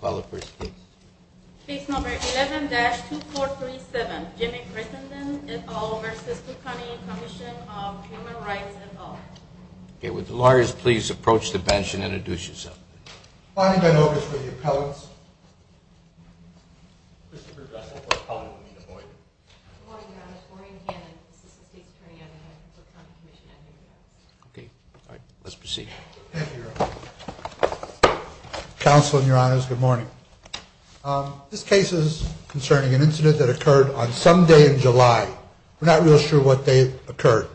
11-2437, Jimmy Crittenden, et al. v. Cook County Commission on Human Rights, et al. Would the lawyers please approach the bench and introduce yourselves. Bonnie Ben-Ovish for the appellants. Christopher Dressel for the appellant, Anita Boyd. Good morning, Your Honors. Maureen Hannan, Assistant State's Attorney on Human Rights, Cook County Commission, et al. Let's proceed. Thank you, Your Honor. Counsel and Your Honors, good morning. This case is concerning an incident that occurred on some day in July. We're not real sure what day it occurred.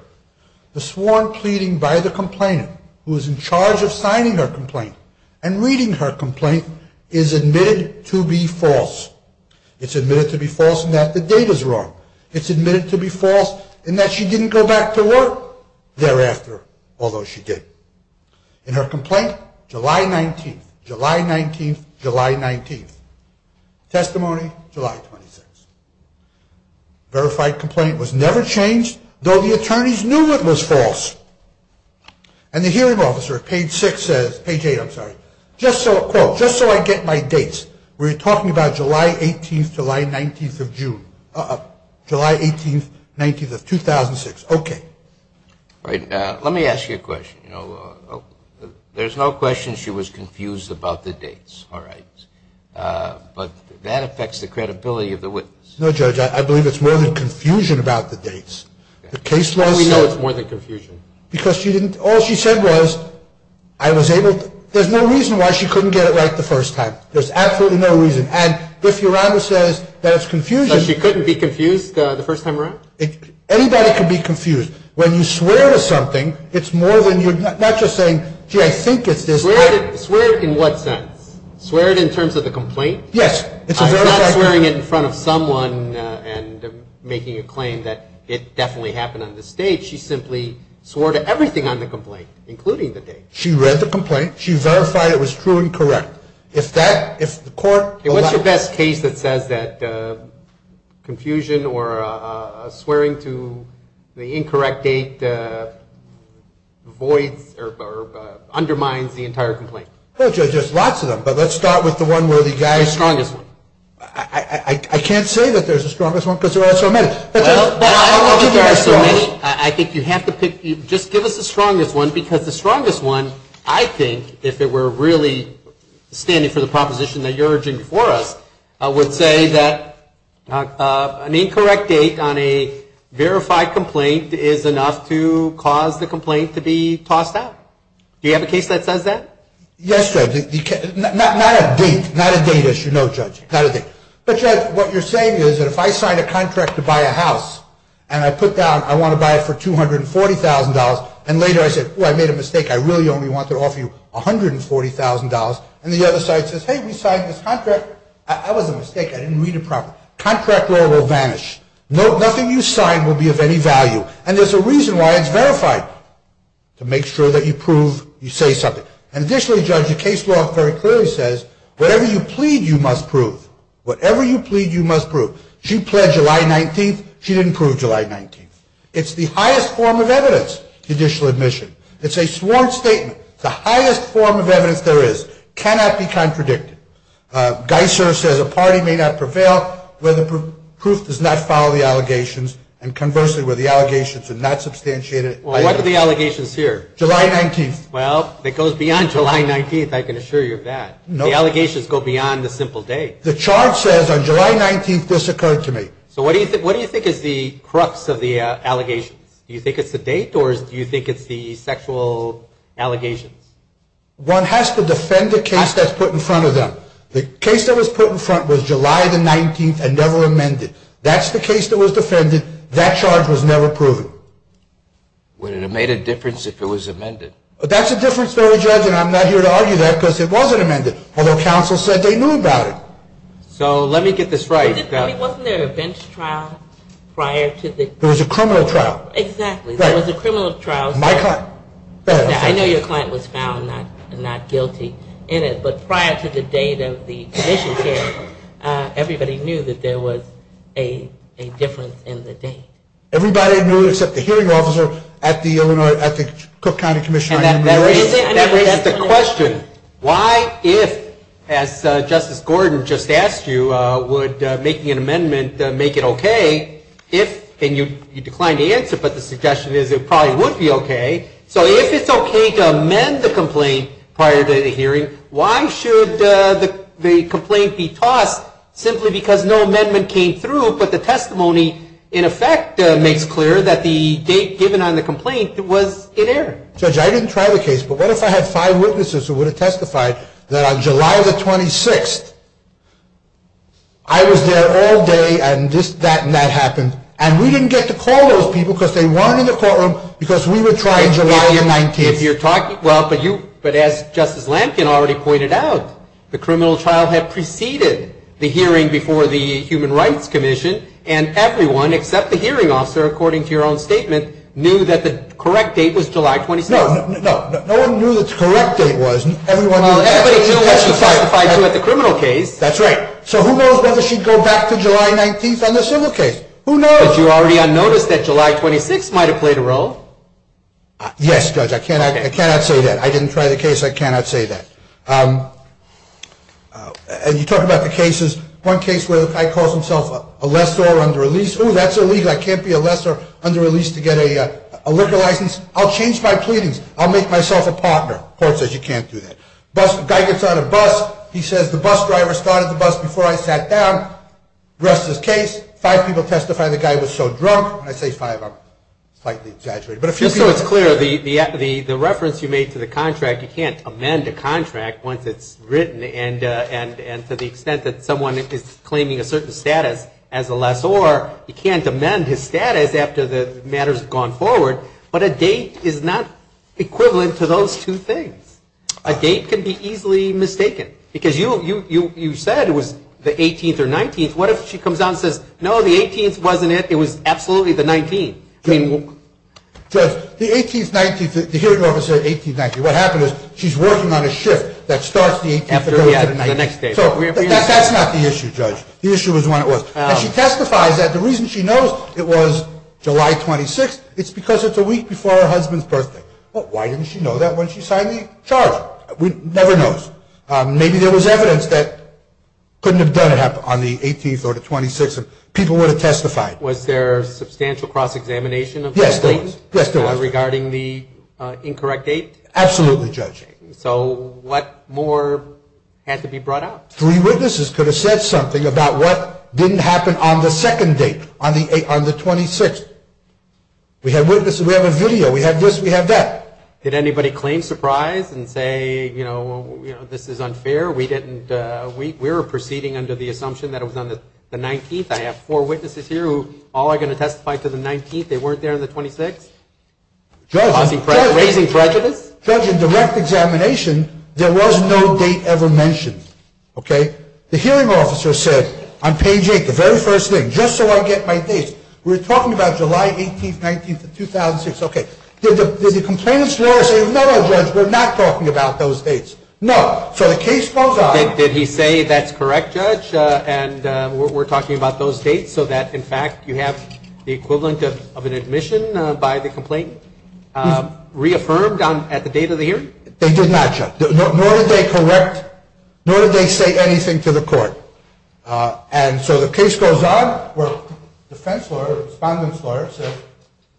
The sworn pleading by the complainant, who is in charge of signing her complaint and reading her complaint, is admitted to be false. It's admitted to be false in that the date is wrong. It's admitted to be false in that she didn't go back to work thereafter, although she did. In her complaint, July 19th, July 19th, July 19th. Testimony, July 26th. Verified complaint was never changed, though the attorneys knew it was false. And the hearing officer at page six says, page eight, I'm sorry, quote, just so I get my dates, we're talking about July 18th, July 19th of June, July 18th, 19th of 2006. Okay. All right. Let me ask you a question. You know, there's no question she was confused about the dates. All right. But that affects the credibility of the witness. No, Judge, I believe it's more than confusion about the dates. The case was. We know it's more than confusion. Because she didn't. All she said was, I was able to. There's no reason why she couldn't get it right the first time. There's absolutely no reason. And if your honor says that it's confusion. She couldn't be confused the first time around? Anybody can be confused. When you swear to something, it's more than you're not just saying, gee, I think it's this. Swear in what sense? Swear it in terms of the complaint? Yes. I'm not swearing it in front of someone and making a claim that it definitely happened on this date. She simply swore to everything on the complaint, including the date. She read the complaint. She verified it was true and correct. If that, if the court. What's your best case that says that confusion or swearing to the incorrect date voids or undermines the entire complaint? Well, Judge, there's lots of them. But let's start with the one where the guy. The strongest one. I can't say that there's a strongest one because there are so many. Well, I don't know that there are so many. I think you have to pick, just give us the strongest one because the strongest one, I think, if it were really standing for the proposition that you're urging for us, I would say that an incorrect date on a verified complaint is enough to cause the complaint to be tossed out. Do you have a case that says that? Yes, Judge. Not a date. Not a date, as you know, Judge. Not a date. But, Judge, what you're saying is that if I sign a contract to buy a house and I put down I want to buy it for $240,000 and later I said, oh, I made a mistake, I really only want to offer you $140,000, and the other side says, hey, we signed this contract. That was a mistake. I didn't read it properly. Contract law will vanish. Nothing you sign will be of any value. And there's a reason why it's verified, to make sure that you prove you say something. And additionally, Judge, the case law very clearly says whatever you plead you must prove. Whatever you plead you must prove. She pled July 19th. She didn't prove July 19th. It's the highest form of evidence, judicial admission. It's a sworn statement. It's the highest form of evidence there is. It cannot be contradicted. Geiser says a party may not prevail where the proof does not follow the allegations and conversely where the allegations are not substantiated. What are the allegations here? July 19th. Well, it goes beyond July 19th, I can assure you of that. The allegations go beyond the simple date. The chart says on July 19th this occurred to me. So what do you think is the crux of the allegations? Do you think it's the date or do you think it's the sexual allegations? One has to defend the case that's put in front of them. The case that was put in front was July 19th and never amended. That's the case that was defended. That charge was never proven. Would it have made a difference if it was amended? That's a difference, Judge, and I'm not here to argue that because it wasn't amended, although counsel said they knew about it. So let me get this right. Wasn't there a bench trial prior to the trial? There was a criminal trial. Exactly. There was a criminal trial. My client. Go ahead. I know your client was found not guilty in it, but prior to the date of the commission hearing, everybody knew that there was a difference in the date. Everybody knew except the hearing officer at the Cook County Commission. That raises the question, why if, as Justice Gordon just asked you, would making an amendment make it okay if, and you declined to answer, but the suggestion is it probably would be okay. So if it's okay to amend the complaint prior to the hearing, why should the complaint be tossed simply because no amendment came through but the testimony, in effect, makes clear that the date given on the complaint was in error? Judge, I didn't try the case, but what if I had five witnesses who would have testified that on July 26th, I was there all day and this, that, and that happened, and we didn't get to call those people because they weren't in the courtroom because we were trying July 19th. If you're talking, well, but you, but as Justice Lankin already pointed out, the criminal trial had preceded the hearing before the Human Rights Commission, and everyone except the hearing officer, according to your own statement, knew that the correct date was July 26th. No, no, no. No one knew that the correct date was. Well, everybody knew that she testified to at the criminal case. That's right. So who knows whether she'd go back to July 19th on the civil case? Who knows? Judge, you already unnoticed that July 26th might have played a role. Yes, Judge, I cannot say that. I didn't try the case. I cannot say that. And you talk about the cases. One case where the guy calls himself a lessor under a lease. Oh, that's illegal. I can't be a lessor under a lease to get a liquor license. I'll change my pleadings. I'll make myself a partner. The court says you can't do that. The guy gets on a bus. He says the bus driver started the bus before I sat down. The rest is case. Five people testify the guy was so drunk. When I say five, I'm slightly exaggerating. Just so it's clear, the reference you made to the contract, you can't amend a contract once it's written. And to the extent that someone is claiming a certain status as a lessor, you can't amend his status after the matters have gone forward. But a date is not equivalent to those two things. A date can be easily mistaken. Because you said it was the 18th or 19th. What if she comes out and says, no, the 18th wasn't it. It was absolutely the 19th. Judge, the 18th, 19th, the hearing officer said 18th, 19th. What happened is she's working on a shift that starts the 18th and goes to the 19th. So that's not the issue, Judge. The issue was when it was. And she testifies that the reason she knows it was July 26th, it's because it's a week before her husband's birthday. Why didn't she know that when she signed the charge? She never knows. Maybe there was evidence that couldn't have done it on the 18th or the 26th. People would have testified. Was there substantial cross-examination of the claim? Yes, there was. Regarding the incorrect date? Absolutely, Judge. So what more had to be brought out? Three witnesses could have said something about what didn't happen on the second date, on the 26th. We have witnesses, we have a video, we have this, we have that. Did anybody claim surprise and say, you know, this is unfair? We were proceeding under the assumption that it was on the 19th. I have four witnesses here who all are going to testify to the 19th. They weren't there on the 26th? Raising prejudice? Judge, in direct examination, there was no date ever mentioned. Okay? The hearing officer said on page 8, the very first thing, just so I get my dates, we're talking about July 18th, 19th of 2006. Okay. Did the complainant's lawyer say, no, no, Judge, we're not talking about those dates? No. So the case goes on. Did he say that's correct, Judge, and we're talking about those dates so that, in fact, you have the equivalent of an admission by the complainant reaffirmed at the date of the hearing? They did not, Judge. Nor did they correct, nor did they say anything to the court. And so the case goes on where defense lawyer, respondent's lawyer says,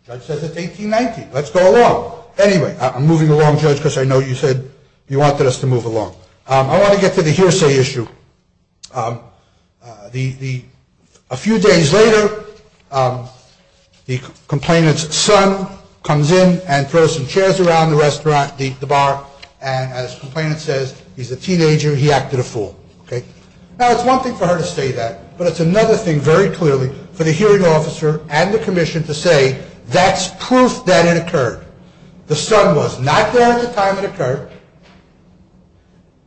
Judge says it's 1819. Let's go along. Anyway, I'm moving along, Judge, because I know you said you wanted us to move along. I want to get to the hearsay issue. A few days later, the complainant's son comes in and throws some chairs around the restaurant, the bar, and as the complainant says, he's a teenager, he acted a fool. Okay. Now, it's one thing for her to say that, but it's another thing, very clearly, for the hearing officer and the commission to say that's proof that it occurred. The son was not there at the time it occurred.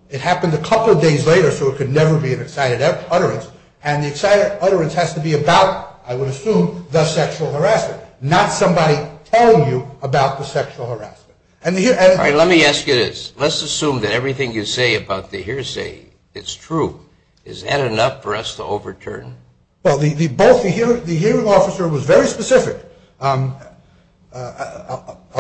It happened a couple of days later, so it could never be an excited utterance, and the excited utterance has to be about, I would assume, the sexual harassment, not somebody telling you about the sexual harassment. All right, let me ask you this. Let's assume that everything you say about the hearsay, it's true. Is that enough for us to overturn? Well, the hearing officer was very specific. I'll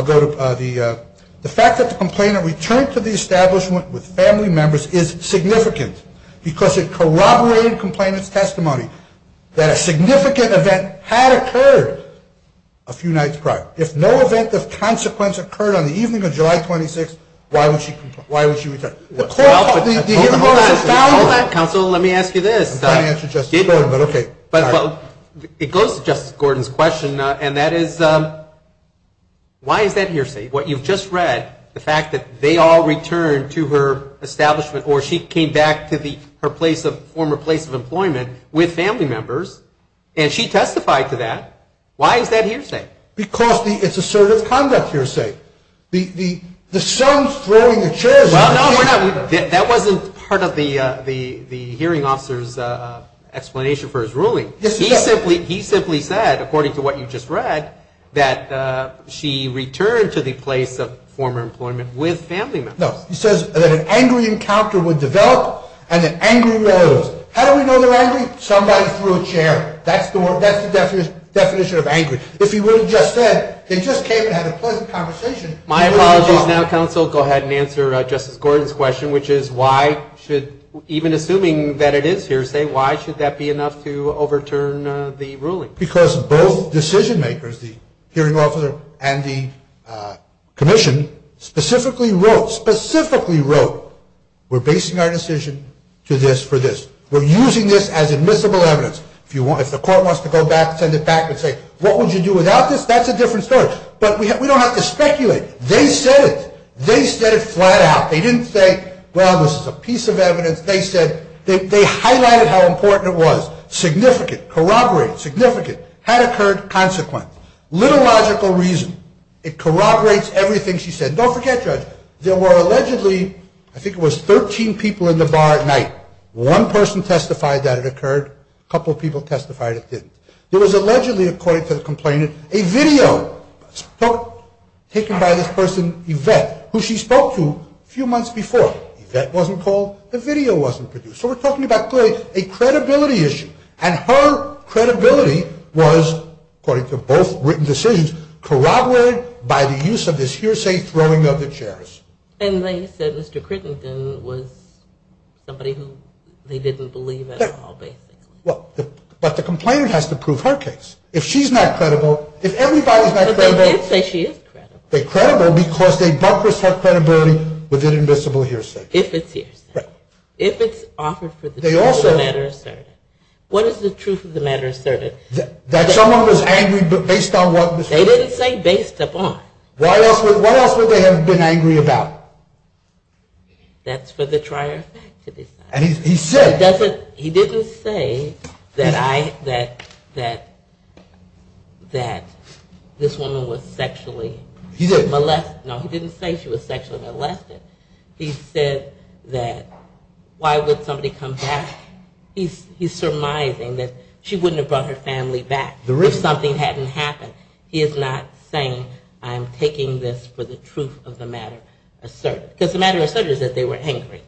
go to the fact that the complainant returned to the establishment with family members is significant because it corroborated the complainant's testimony that a significant event had occurred a few nights prior. If no event of consequence occurred on the evening of July 26th, why would she return? Hold on, counsel, let me ask you this. It goes to Justice Gordon's question, and that is why is that hearsay? What you've just read, the fact that they all returned to her establishment or she came back to her former place of employment with family members, and she testified to that. Why is that hearsay? Because it's assertive conduct hearsay. The son's throwing the chairs. Well, no, that wasn't part of the hearing officer's explanation for his ruling. He simply said, according to what you just read, that she returned to the place of former employment with family members. No, he says that an angry encounter would develop and an angry rose. How do we know they're angry? Somebody threw a chair. That's the definition of angry. If he would have just said, they just came and had a pleasant conversation. My apologies now, counsel. Go ahead and answer Justice Gordon's question, which is why should, even assuming that it is hearsay, why should that be enough to overturn the ruling? Because both decision makers, the hearing officer and the commission, specifically wrote, specifically wrote, we're basing our decision to this for this. We're using this as admissible evidence. If the court wants to go back and send it back and say, what would you do without this? That's a different story. But we don't have to speculate. They said it. They said it flat out. They didn't say, well, this is a piece of evidence. They said, they highlighted how important it was. Significant, corroborated, significant, had occurred, consequence. Liturgical reason. It corroborates everything she said. Don't forget, Judge, there were allegedly, I think it was 13 people in the bar at night. One person testified that it occurred. A couple people testified it didn't. There was allegedly, according to the complainant, a video taken by this person, Yvette, who she spoke to a few months before. Yvette wasn't called. The video wasn't produced. So we're talking about clearly a credibility issue. And her credibility was, according to both written decisions, corroborated by the use of this hearsay throwing of the chairs. And they said Mr. Crittenden was somebody who they didn't believe at all, basically. Well, but the complainant has to prove her case. If she's not credible, if everybody's not credible. But they did say she is credible. They're credible because they bunkers her credibility with an invisible hearsay. If it's hearsay. Right. If it's offered for the truth of the matter asserted. What is the truth of the matter asserted? That someone was angry based on what was heard. They didn't say based upon. What else would they have been angry about? That's for the trier of fact to decide. And he said. He didn't say that this woman was sexually molested. No, he didn't say she was sexually molested. He said that why would somebody come back. He's surmising that she wouldn't have brought her family back if something hadn't happened. He is not saying I'm taking this for the truth of the matter asserted. Because the matter asserted is that they were angry.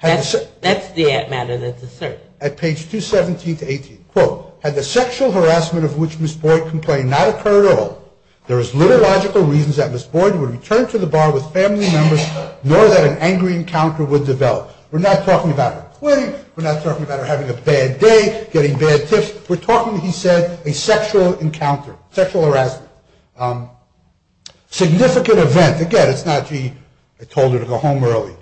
That's the matter that's asserted. At page 217 to 18. Quote. Had the sexual harassment of which Ms. Boyd complained not occurred at all, there is little logical reasons that Ms. Boyd would return to the bar with family members, nor that an angry encounter would develop. We're not talking about her quitting. We're not talking about her having a bad day, getting bad tips. We're talking, he said, a sexual encounter, sexual harassment. Significant event. Again, it's not, gee, I told her to go home early.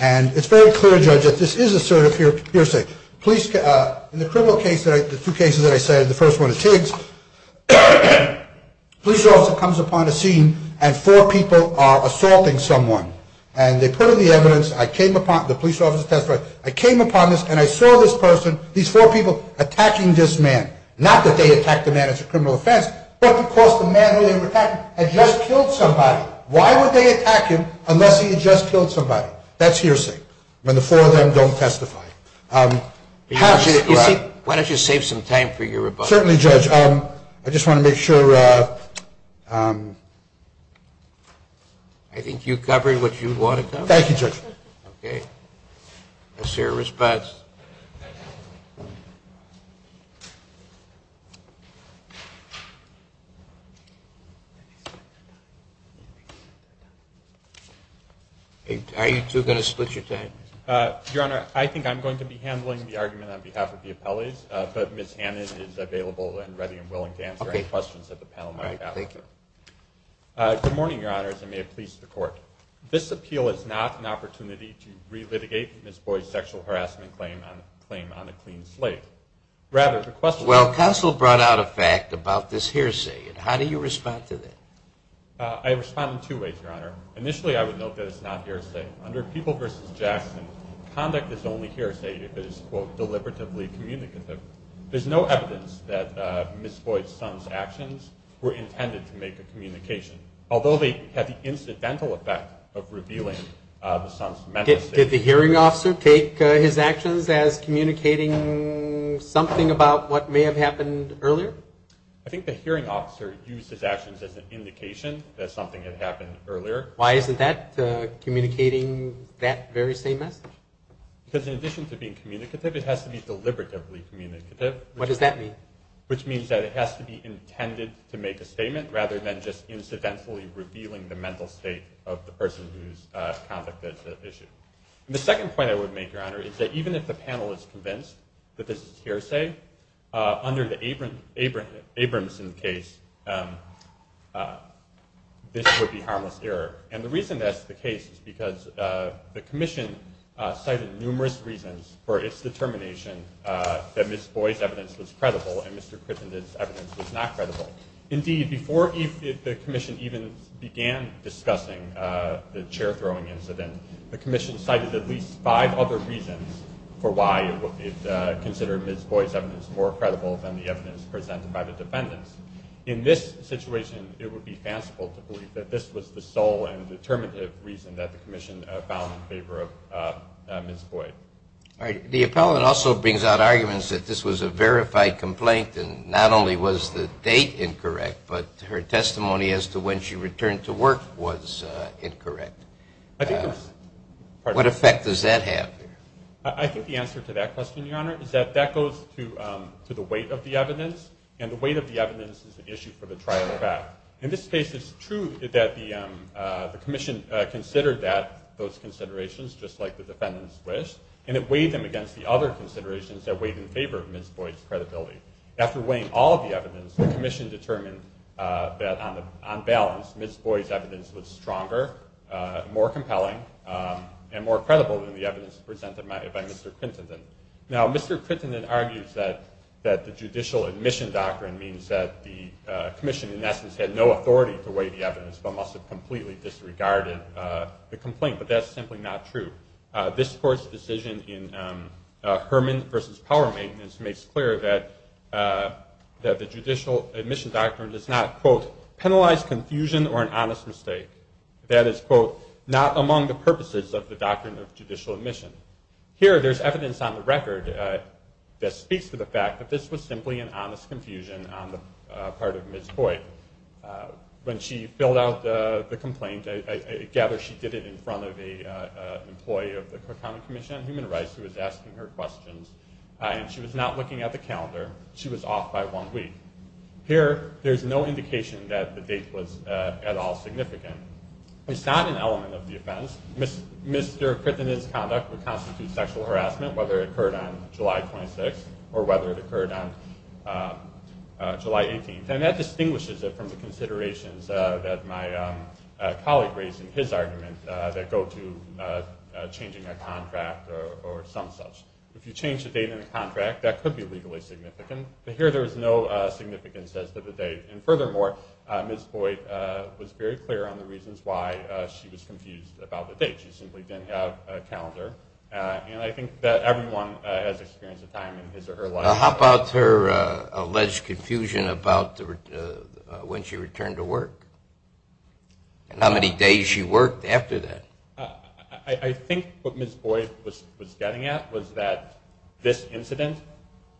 And it's very clear, Judge, that this is assertive hearsay. In the criminal case, the two cases that I said, the first one is Tiggs. A police officer comes upon a scene and four people are assaulting someone. And they put in the evidence. The police officer testified. I came upon this and I saw this person, these four people, attacking this man. Not that they attacked the man as a criminal offense, but because the man who they were attacking had just killed somebody. Why would they attack him unless he had just killed somebody? That's hearsay when the four of them don't testify. Why don't you save some time for your rebuttal? Certainly, Judge. I just want to make sure. I think you've covered what you wanted to. Thank you, Judge. Okay. Let's hear a response. Are you two going to split your time? Your Honor, I think I'm going to be handling the argument on behalf of the appellees, but Ms. Hannan is available and ready and willing to answer any questions that the panel might have. All right. Thank you. Good morning, Your Honors, and may it please the Court. This appeal is not an opportunity to re-litigate Ms. Boyd's sexual harassment claim on a clean slate. Rather, the question is… Well, counsel brought out a fact about this hearsay. How do you respond to that? I respond in two ways, Your Honor. Initially, I would note that it's not hearsay. Under People v. Jackson, conduct is only hearsay if it is, quote, deliberately communicative. There's no evidence that Ms. Boyd's son's actions were intended to make a communication. Although they had the incidental effect of revealing the son's mental state. Did the hearing officer take his actions as communicating something about what may have happened earlier? I think the hearing officer used his actions as an indication that something had happened earlier. Why isn't that communicating that very same message? Because in addition to being communicative, it has to be deliberately communicative. What does that mean? Which means that it has to be intended to make a statement, rather than just incidentally revealing the mental state of the person whose conduct is at issue. The second point I would make, Your Honor, is that even if the panel is convinced that this is hearsay, under the Abramson case, this would be harmless error. And the reason that's the case is because the commission cited numerous reasons for its determination that Ms. Boyd's evidence was credible and Mr. Krippin's evidence was not credible. Indeed, before the commission even began discussing the chair-throwing incident, the commission cited at least five other reasons for why it considered Ms. Boyd's evidence more credible than the evidence presented by the defendants. In this situation, it would be fanciful to believe that this was the sole and determinative reason that the commission found in favor of Ms. Boyd. All right. The appellate also brings out arguments that this was a verified complaint and not only was the date incorrect, but her testimony as to when she returned to work was incorrect. What effect does that have? I think the answer to that question, Your Honor, is that that goes to the weight of the evidence, and the weight of the evidence is an issue for the trial to have. In this case, it's true that the commission considered those considerations, just like the defendants wished, and it weighed them against the other considerations that weighed in favor of Ms. Boyd's credibility. After weighing all of the evidence, the commission determined that, on balance, Ms. Boyd's evidence was stronger, more compelling, and more credible than the evidence presented by Mr. Krippin. Now, Mr. Krippin argues that the judicial admission doctrine means that the commission, in essence, had no authority to weigh the evidence but must have completely disregarded the complaint, but that's simply not true. This Court's decision in Herman v. Power Maintenance makes clear that the judicial admission doctrine does not, quote, penalize confusion or an honest mistake. That is, quote, not among the purposes of the doctrine of judicial admission. Here, there's evidence on the record that speaks to the fact that this was simply an honest confusion on the part of Ms. Boyd. When she filled out the complaint, I gather she did it in front of an employee of the Common Commission on Human Rights who was asking her questions, and she was not looking at the calendar. She was off by one week. Here, there's no indication that the date was at all significant. It's not an element of the offense. Mr. Krippin's conduct would constitute sexual harassment, whether it occurred on July 26th or whether it occurred on July 18th, and that distinguishes it from the considerations that my colleague raised in his argument that go to changing a contract or some such. If you change the date in a contract, that could be legally significant, but here there is no significance as to the date. And furthermore, Ms. Boyd was very clear on the reasons why she was confused about the date. She simply didn't have a calendar, and I think that everyone has experienced a time in his or her life. How about her alleged confusion about when she returned to work and how many days she worked after that? I think what Ms. Boyd was getting at was that this incident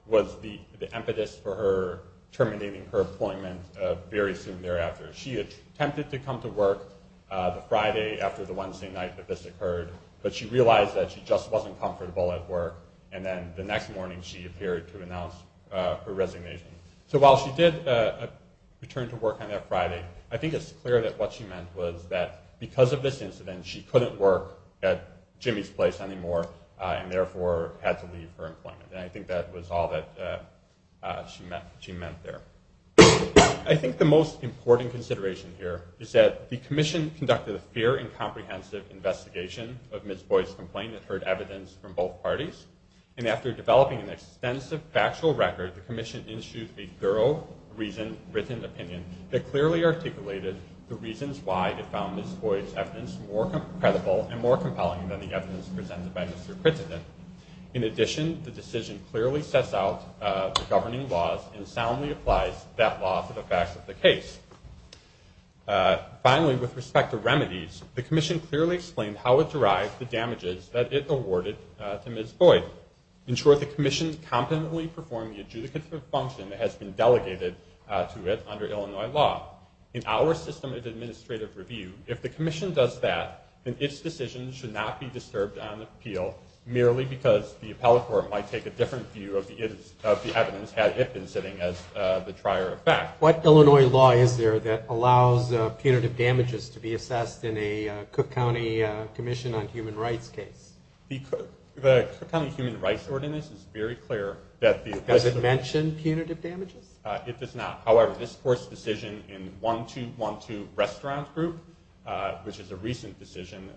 was the impetus for her terminating her appointment very soon thereafter. She attempted to come to work the Friday after the Wednesday night that this occurred, but she realized that she just wasn't comfortable at work, and then the next morning she appeared to announce her resignation. So while she did return to work on that Friday, I think it's clear that what she meant was that because of this incident, she couldn't work at Jimmy's place anymore and therefore had to leave her employment, and I think that was all that she meant there. I think the most important consideration here is that the commission conducted a fair and comprehensive investigation of Ms. Boyd's complaint that heard evidence from both parties, and after developing an extensive factual record, the commission issued a thorough written opinion that clearly articulated the reasons why it found Ms. Boyd's evidence more credible and more compelling than the evidence presented by Mr. Crittenden. In addition, the decision clearly sets out the governing laws and soundly applies that law to the facts of the case. Finally, with respect to remedies, the commission clearly explained how it derived the damages that it awarded to Ms. Boyd. In short, the commission competently performed the adjudicative function that has been delegated to it under Illinois law. In our system of administrative review, if the commission does that, then its decision should not be disturbed on appeal merely because the appellate court might take a different view of the evidence had it been sitting as the trier of fact. What Illinois law is there that allows punitive damages to be assessed in a Cook County Commission on Human Rights case? The Cook County Human Rights Ordinance is very clear that the appellate court Does it mention punitive damages? It does not. However, this court's decision in 1212 Restaurant Group, which is a recent decision,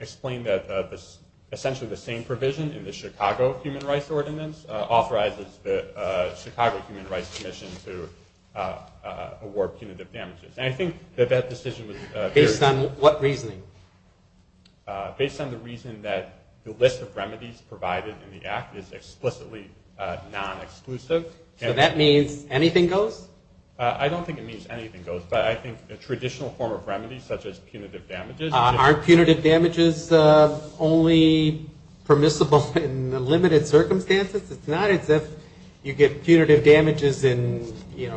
explained that essentially the same provision in the Chicago Human Rights Ordinance authorizes the Chicago Human Rights Commission to award punitive damages. And I think that that decision was very clear. Based on what reasoning? Based on the reason that the list of remedies provided in the act is explicitly non-exclusive. So that means anything goes? I don't think it means anything goes. But I think a traditional form of remedy, such as punitive damages Aren't punitive damages only permissible in limited circumstances? It's not as if you get punitive damages in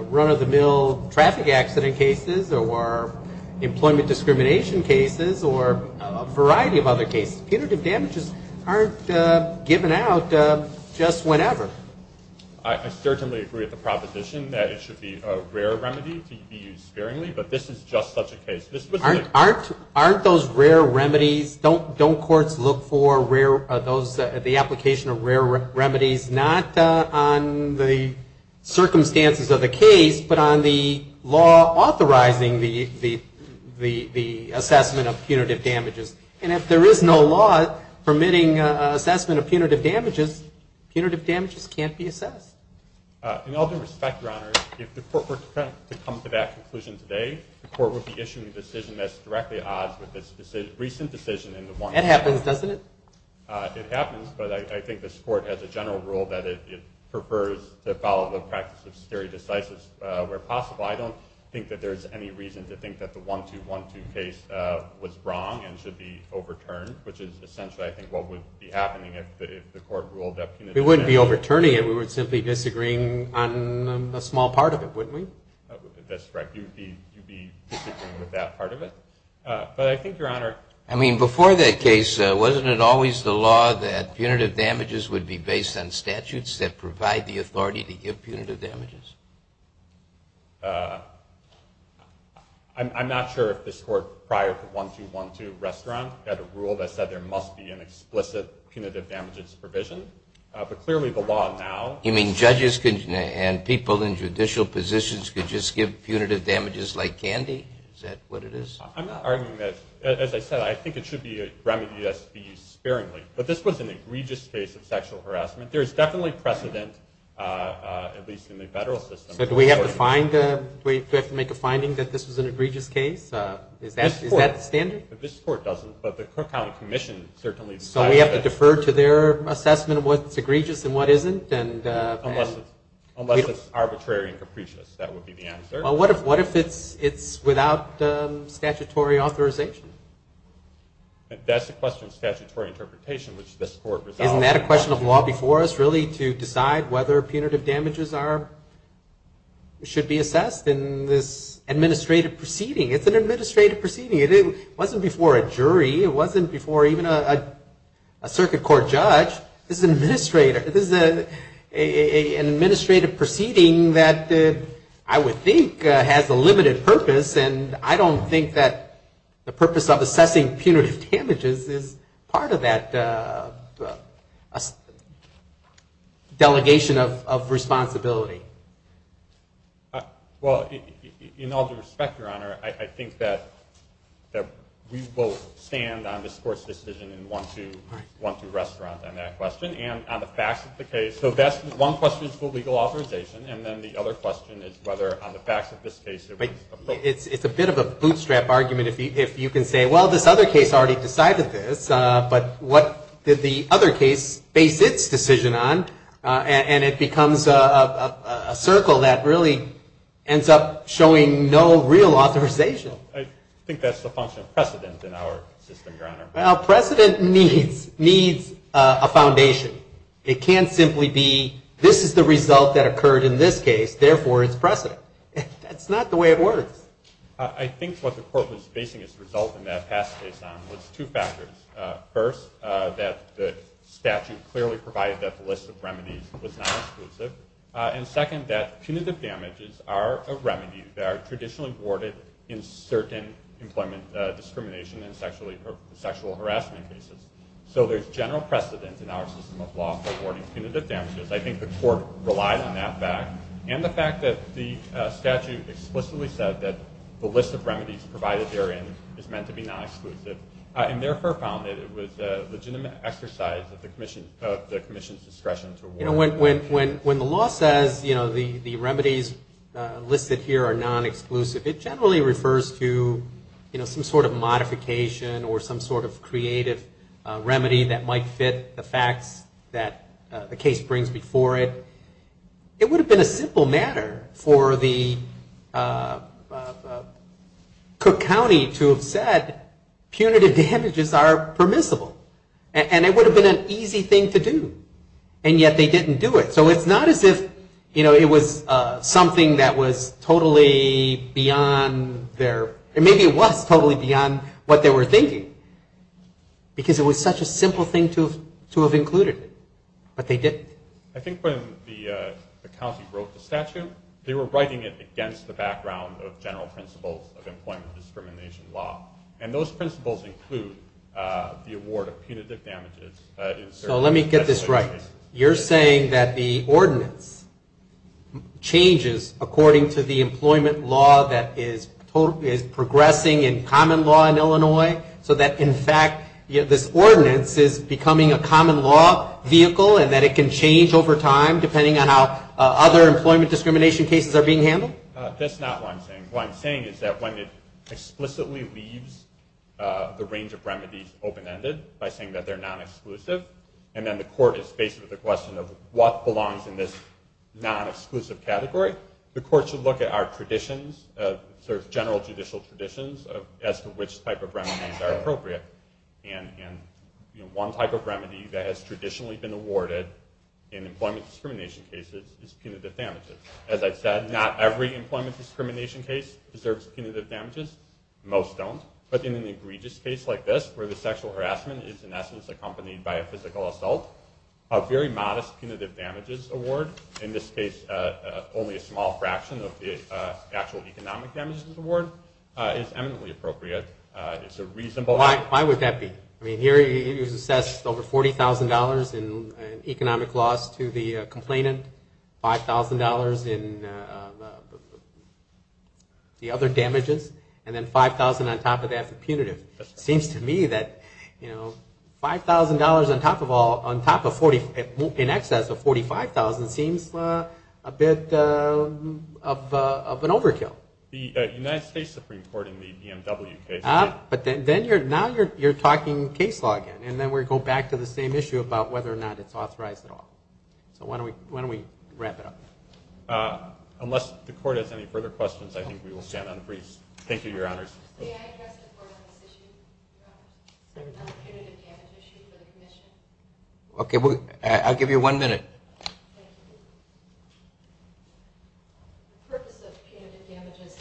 run-of-the-mill traffic accident cases or employment discrimination cases or a variety of other cases. Punitive damages aren't given out just whenever. I certainly agree with the proposition that it should be a rare remedy to be used sparingly, but this is just such a case. Aren't those rare remedies, don't courts look for the application of rare remedies not on the circumstances of the case, but on the law authorizing the assessment of punitive damages? And if there is no law permitting assessment of punitive damages, punitive damages can't be assessed. In all due respect, Your Honor, if the court were to come to that conclusion today, the court would be issuing a decision that's directly at odds with this recent decision in the 1-2-1-2 case. That happens, doesn't it? It happens, but I think this Court has a general rule that it prefers to follow the practice of stare decisis where possible. I don't think that there's any reason to think that the 1-2-1-2 case was wrong and should be overturned, which is essentially, I think, what would be happening if the Court ruled that punitive damages We wouldn't be overturning it, we would simply be disagreeing on a small part of it, wouldn't we? That's right, you would be disagreeing with that part of it. But I think, Your Honor... I mean, before that case, wasn't it always the law that punitive damages would be based on statutes that provide the authority to give punitive damages? I'm not sure if this Court, prior to 1-2-1-2, had a rule that said there must be an explicit punitive damages provision. But clearly the law now... You mean judges and people in judicial positions could just give punitive damages like candy? Is that what it is? I'm arguing that, as I said, I think it should be a remedy that should be used sparingly. But this was an egregious case of sexual harassment. There is definitely precedent, at least in the federal system... So do we have to make a finding that this was an egregious case? Is that the standard? This Court doesn't, but the Cook County Commission certainly... So we have to defer to their assessment of what's egregious and what isn't? Unless it's arbitrary and capricious, that would be the answer. Well, what if it's without statutory authorization? That's the question of statutory interpretation, which this Court resolved... Isn't that a question of law before us, really, to decide whether punitive damages should be assessed in this administrative proceeding? It's an administrative proceeding. It wasn't before a jury. It wasn't before even a circuit court judge. This is an administrative proceeding that I would think has a limited purpose, and I don't think that the purpose of assessing punitive damages is part of that delegation of responsibility. Well, in all due respect, Your Honor, I think that we will stand on this Court's decision in 1-2 restaurant on that question, and on the facts of the case. So that's one question is for legal authorization, and then the other question is whether on the facts of this case... It's a bit of a bootstrap argument if you can say, well, this other case already decided this, but what did the other case base its decision on? And it becomes a circle that really ends up showing no real authorization. I think that's the function of precedent in our system, Your Honor. Well, precedent needs a foundation. It can't simply be this is the result that occurred in this case, therefore it's precedent. That's not the way it works. I think what the Court was basing its result in that past case on was two factors. First, that the statute clearly provided that the list of remedies was not exclusive, and second, that punitive damages are a remedy that are traditionally awarded in certain employment discrimination and sexual harassment cases. So there's general precedent in our system of law for awarding punitive damages. I think the Court relied on that fact, and the fact that the statute explicitly said that the list of remedies provided therein is meant to be not exclusive, and therefore found that it was a legitimate exercise of the Commission's discretion to award. You know, when the law says, you know, the remedies listed here are non-exclusive, it generally refers to, you know, some sort of modification or some sort of creative remedy that might fit the facts that the case brings before it. It would have been a simple matter for the Cook County to have said, punitive damages are permissible, and it would have been an easy thing to do, and yet they didn't do it. So it's not as if, you know, it was something that was totally beyond their, maybe it was totally beyond what they were thinking, because it was such a simple thing to have included, but they didn't. I think when the county wrote the statute, they were writing it against the background of general principles of employment discrimination law, and those principles include the award of punitive damages in certain cases. So let me get this right. You're saying that the ordinance changes according to the employment law that is progressing in common law in Illinois, so that, in fact, this ordinance is becoming a common law vehicle and that it can change over time depending on how other employment discrimination cases are being handled? That's not what I'm saying. What I'm saying is that when it explicitly leaves the range of remedies open-ended by saying that they're non-exclusive, and then the court is faced with the question of what belongs in this non-exclusive category, the court should look at our traditions, sort of general judicial traditions, as to which type of remedies are appropriate. One type of remedy that has traditionally been awarded in employment discrimination cases is punitive damages. As I've said, not every employment discrimination case deserves punitive damages. Most don't. But in an egregious case like this, where the sexual harassment is in essence accompanied by a physical assault, a very modest punitive damages award, in this case only a small fraction of the actual economic damages award, is eminently appropriate. Why would that be? Here he was assessed over $40,000 in economic loss to the complainant, $5,000 in the other damages, and then $5,000 on top of that for punitive. It seems to me that $5,000 in excess of $45,000 seems a bit of an overkill. The United States Supreme Court in the BMW case. But now you're talking case law again, and then we go back to the same issue about whether or not it's authorized at all. So why don't we wrap it up? Unless the court has any further questions, I think we will stand on freeze. Thank you, Your Honors. May I address the court on this issue? On the punitive damages issue for the commission? Okay. I'll give you one minute. Thank you. The purpose of punitive damages,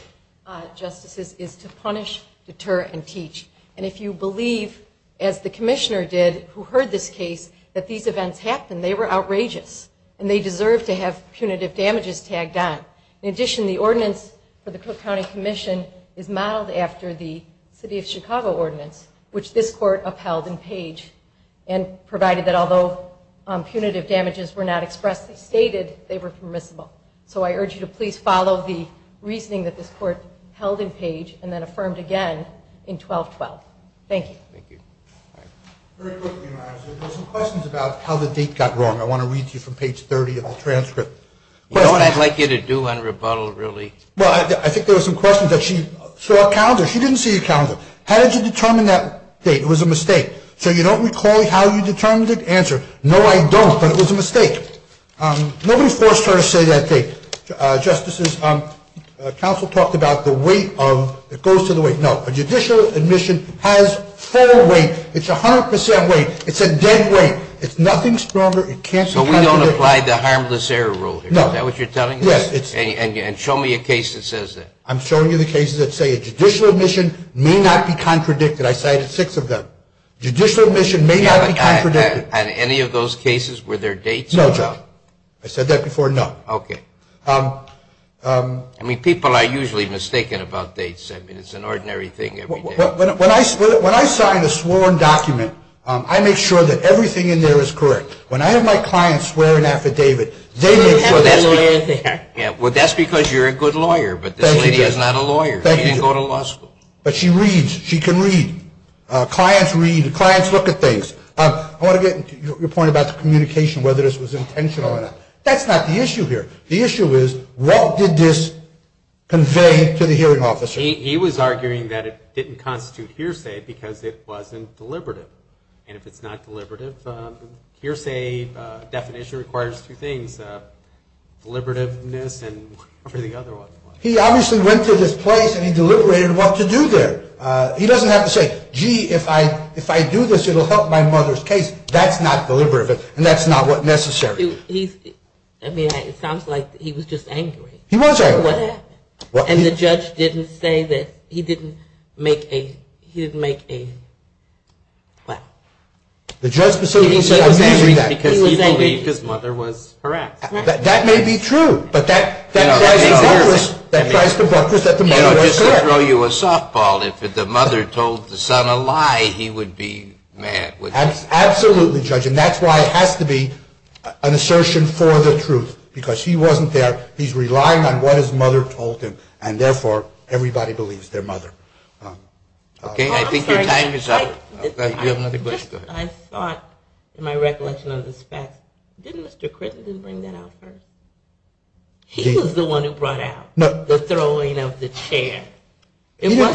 Justices, is to punish, deter, and teach. And if you believe, as the commissioner did, who heard this case, that these events happened, they were outrageous, and they deserve to have punitive damages tagged on. In addition, the ordinance for the Cook County Commission is modeled after the city of Chicago ordinance, which this court upheld in Page, and provided that although punitive damages were not expressly stated, they were permissible. So I urge you to please follow the reasoning that this court held in Page and then affirmed again in 1212. Thank you. Thank you. Very quickly, Your Honors, there were some questions about how the date got wrong. I want to read to you from Page 30 of the transcript. You know what I'd like you to do on rebuttal, really? Well, I think there were some questions that she saw a calendar. She didn't see a calendar. How did you determine that date? It was a mistake. So you don't recall how you determined it? Answer, no, I don't, but it was a mistake. Nobody forced her to say that date. Justices, counsel talked about the weight of, it goes to the weight. No, a judicial admission has full weight. It's 100% weight. It's a dead weight. It's nothing stronger. So we don't apply the harmless error rule here. Is that what you're telling me? Yes. And show me a case that says that. I'm showing you the cases that say a judicial admission may not be contradicted. I cited six of them. Judicial admission may not be contradicted. And any of those cases, were there dates? No, John. I said that before. No. Okay. I mean, people are usually mistaken about dates. I mean, it's an ordinary thing every day. When I sign a sworn document, I make sure that everything in there is correct. When I have my clients swear an affidavit, they make sure that everything is correct. Well, that's because you're a good lawyer. But this lady is not a lawyer. She didn't go to law school. But she reads. She can read. Clients read. Clients look at things. I want to get to your point about the communication, whether this was intentional or not. That's not the issue here. The issue is, what did this convey to the hearing officer? He was arguing that it didn't constitute hearsay because it wasn't deliberative. And if it's not deliberative, hearsay definition requires two things, deliberativeness and whatever the other one was. He obviously went to this place and he deliberated what to do there. He doesn't have to say, gee, if I do this, it will help my mother's case. That's not deliberative. And that's not what's necessary. I mean, it sounds like he was just angry. He was angry. And the judge didn't say that he didn't make a, he didn't make a, what? The judge specifically said, I'm using that. He was angry because he believed his mother was harassed. That may be true. But that tries to breakfast that the mother was correct. You know, just to throw you a softball, if the mother told the son a lie, he would be mad. Absolutely, Judge. And that's why it has to be an assertion for the truth. Because he wasn't there. He's relying on what his mother told him. And, therefore, everybody believes their mother. Okay. I think your time is up. Do you have another question? I thought, in my recollection of this fact, didn't Mr. Crittenden bring that up first? He was the one who brought out the throwing of the chair. He brought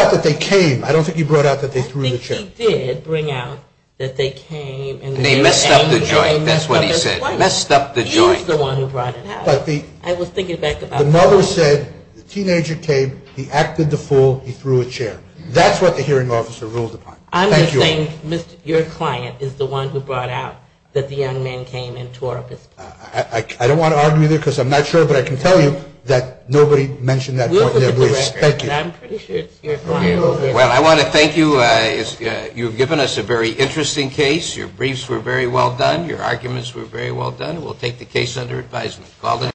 out that they came. I don't think he brought out that they threw the chair. I think he did bring out that they came. And they messed up the joint. That's what he said. Messed up the joint. He was the one who brought it out. I was thinking back about that. The mother said the teenager came, he acted the fool, he threw a chair. That's what the hearing officer ruled upon. I'm just saying your client is the one who brought out that the young man came into our business. I don't want to argue with you because I'm not sure. But I can tell you that nobody mentioned that point in their briefs. Thank you. I'm pretty sure it's your client. Well, I want to thank you. You've given us a very interesting case. Your briefs were very well done. Your arguments were very well done. We'll take the case under advisement.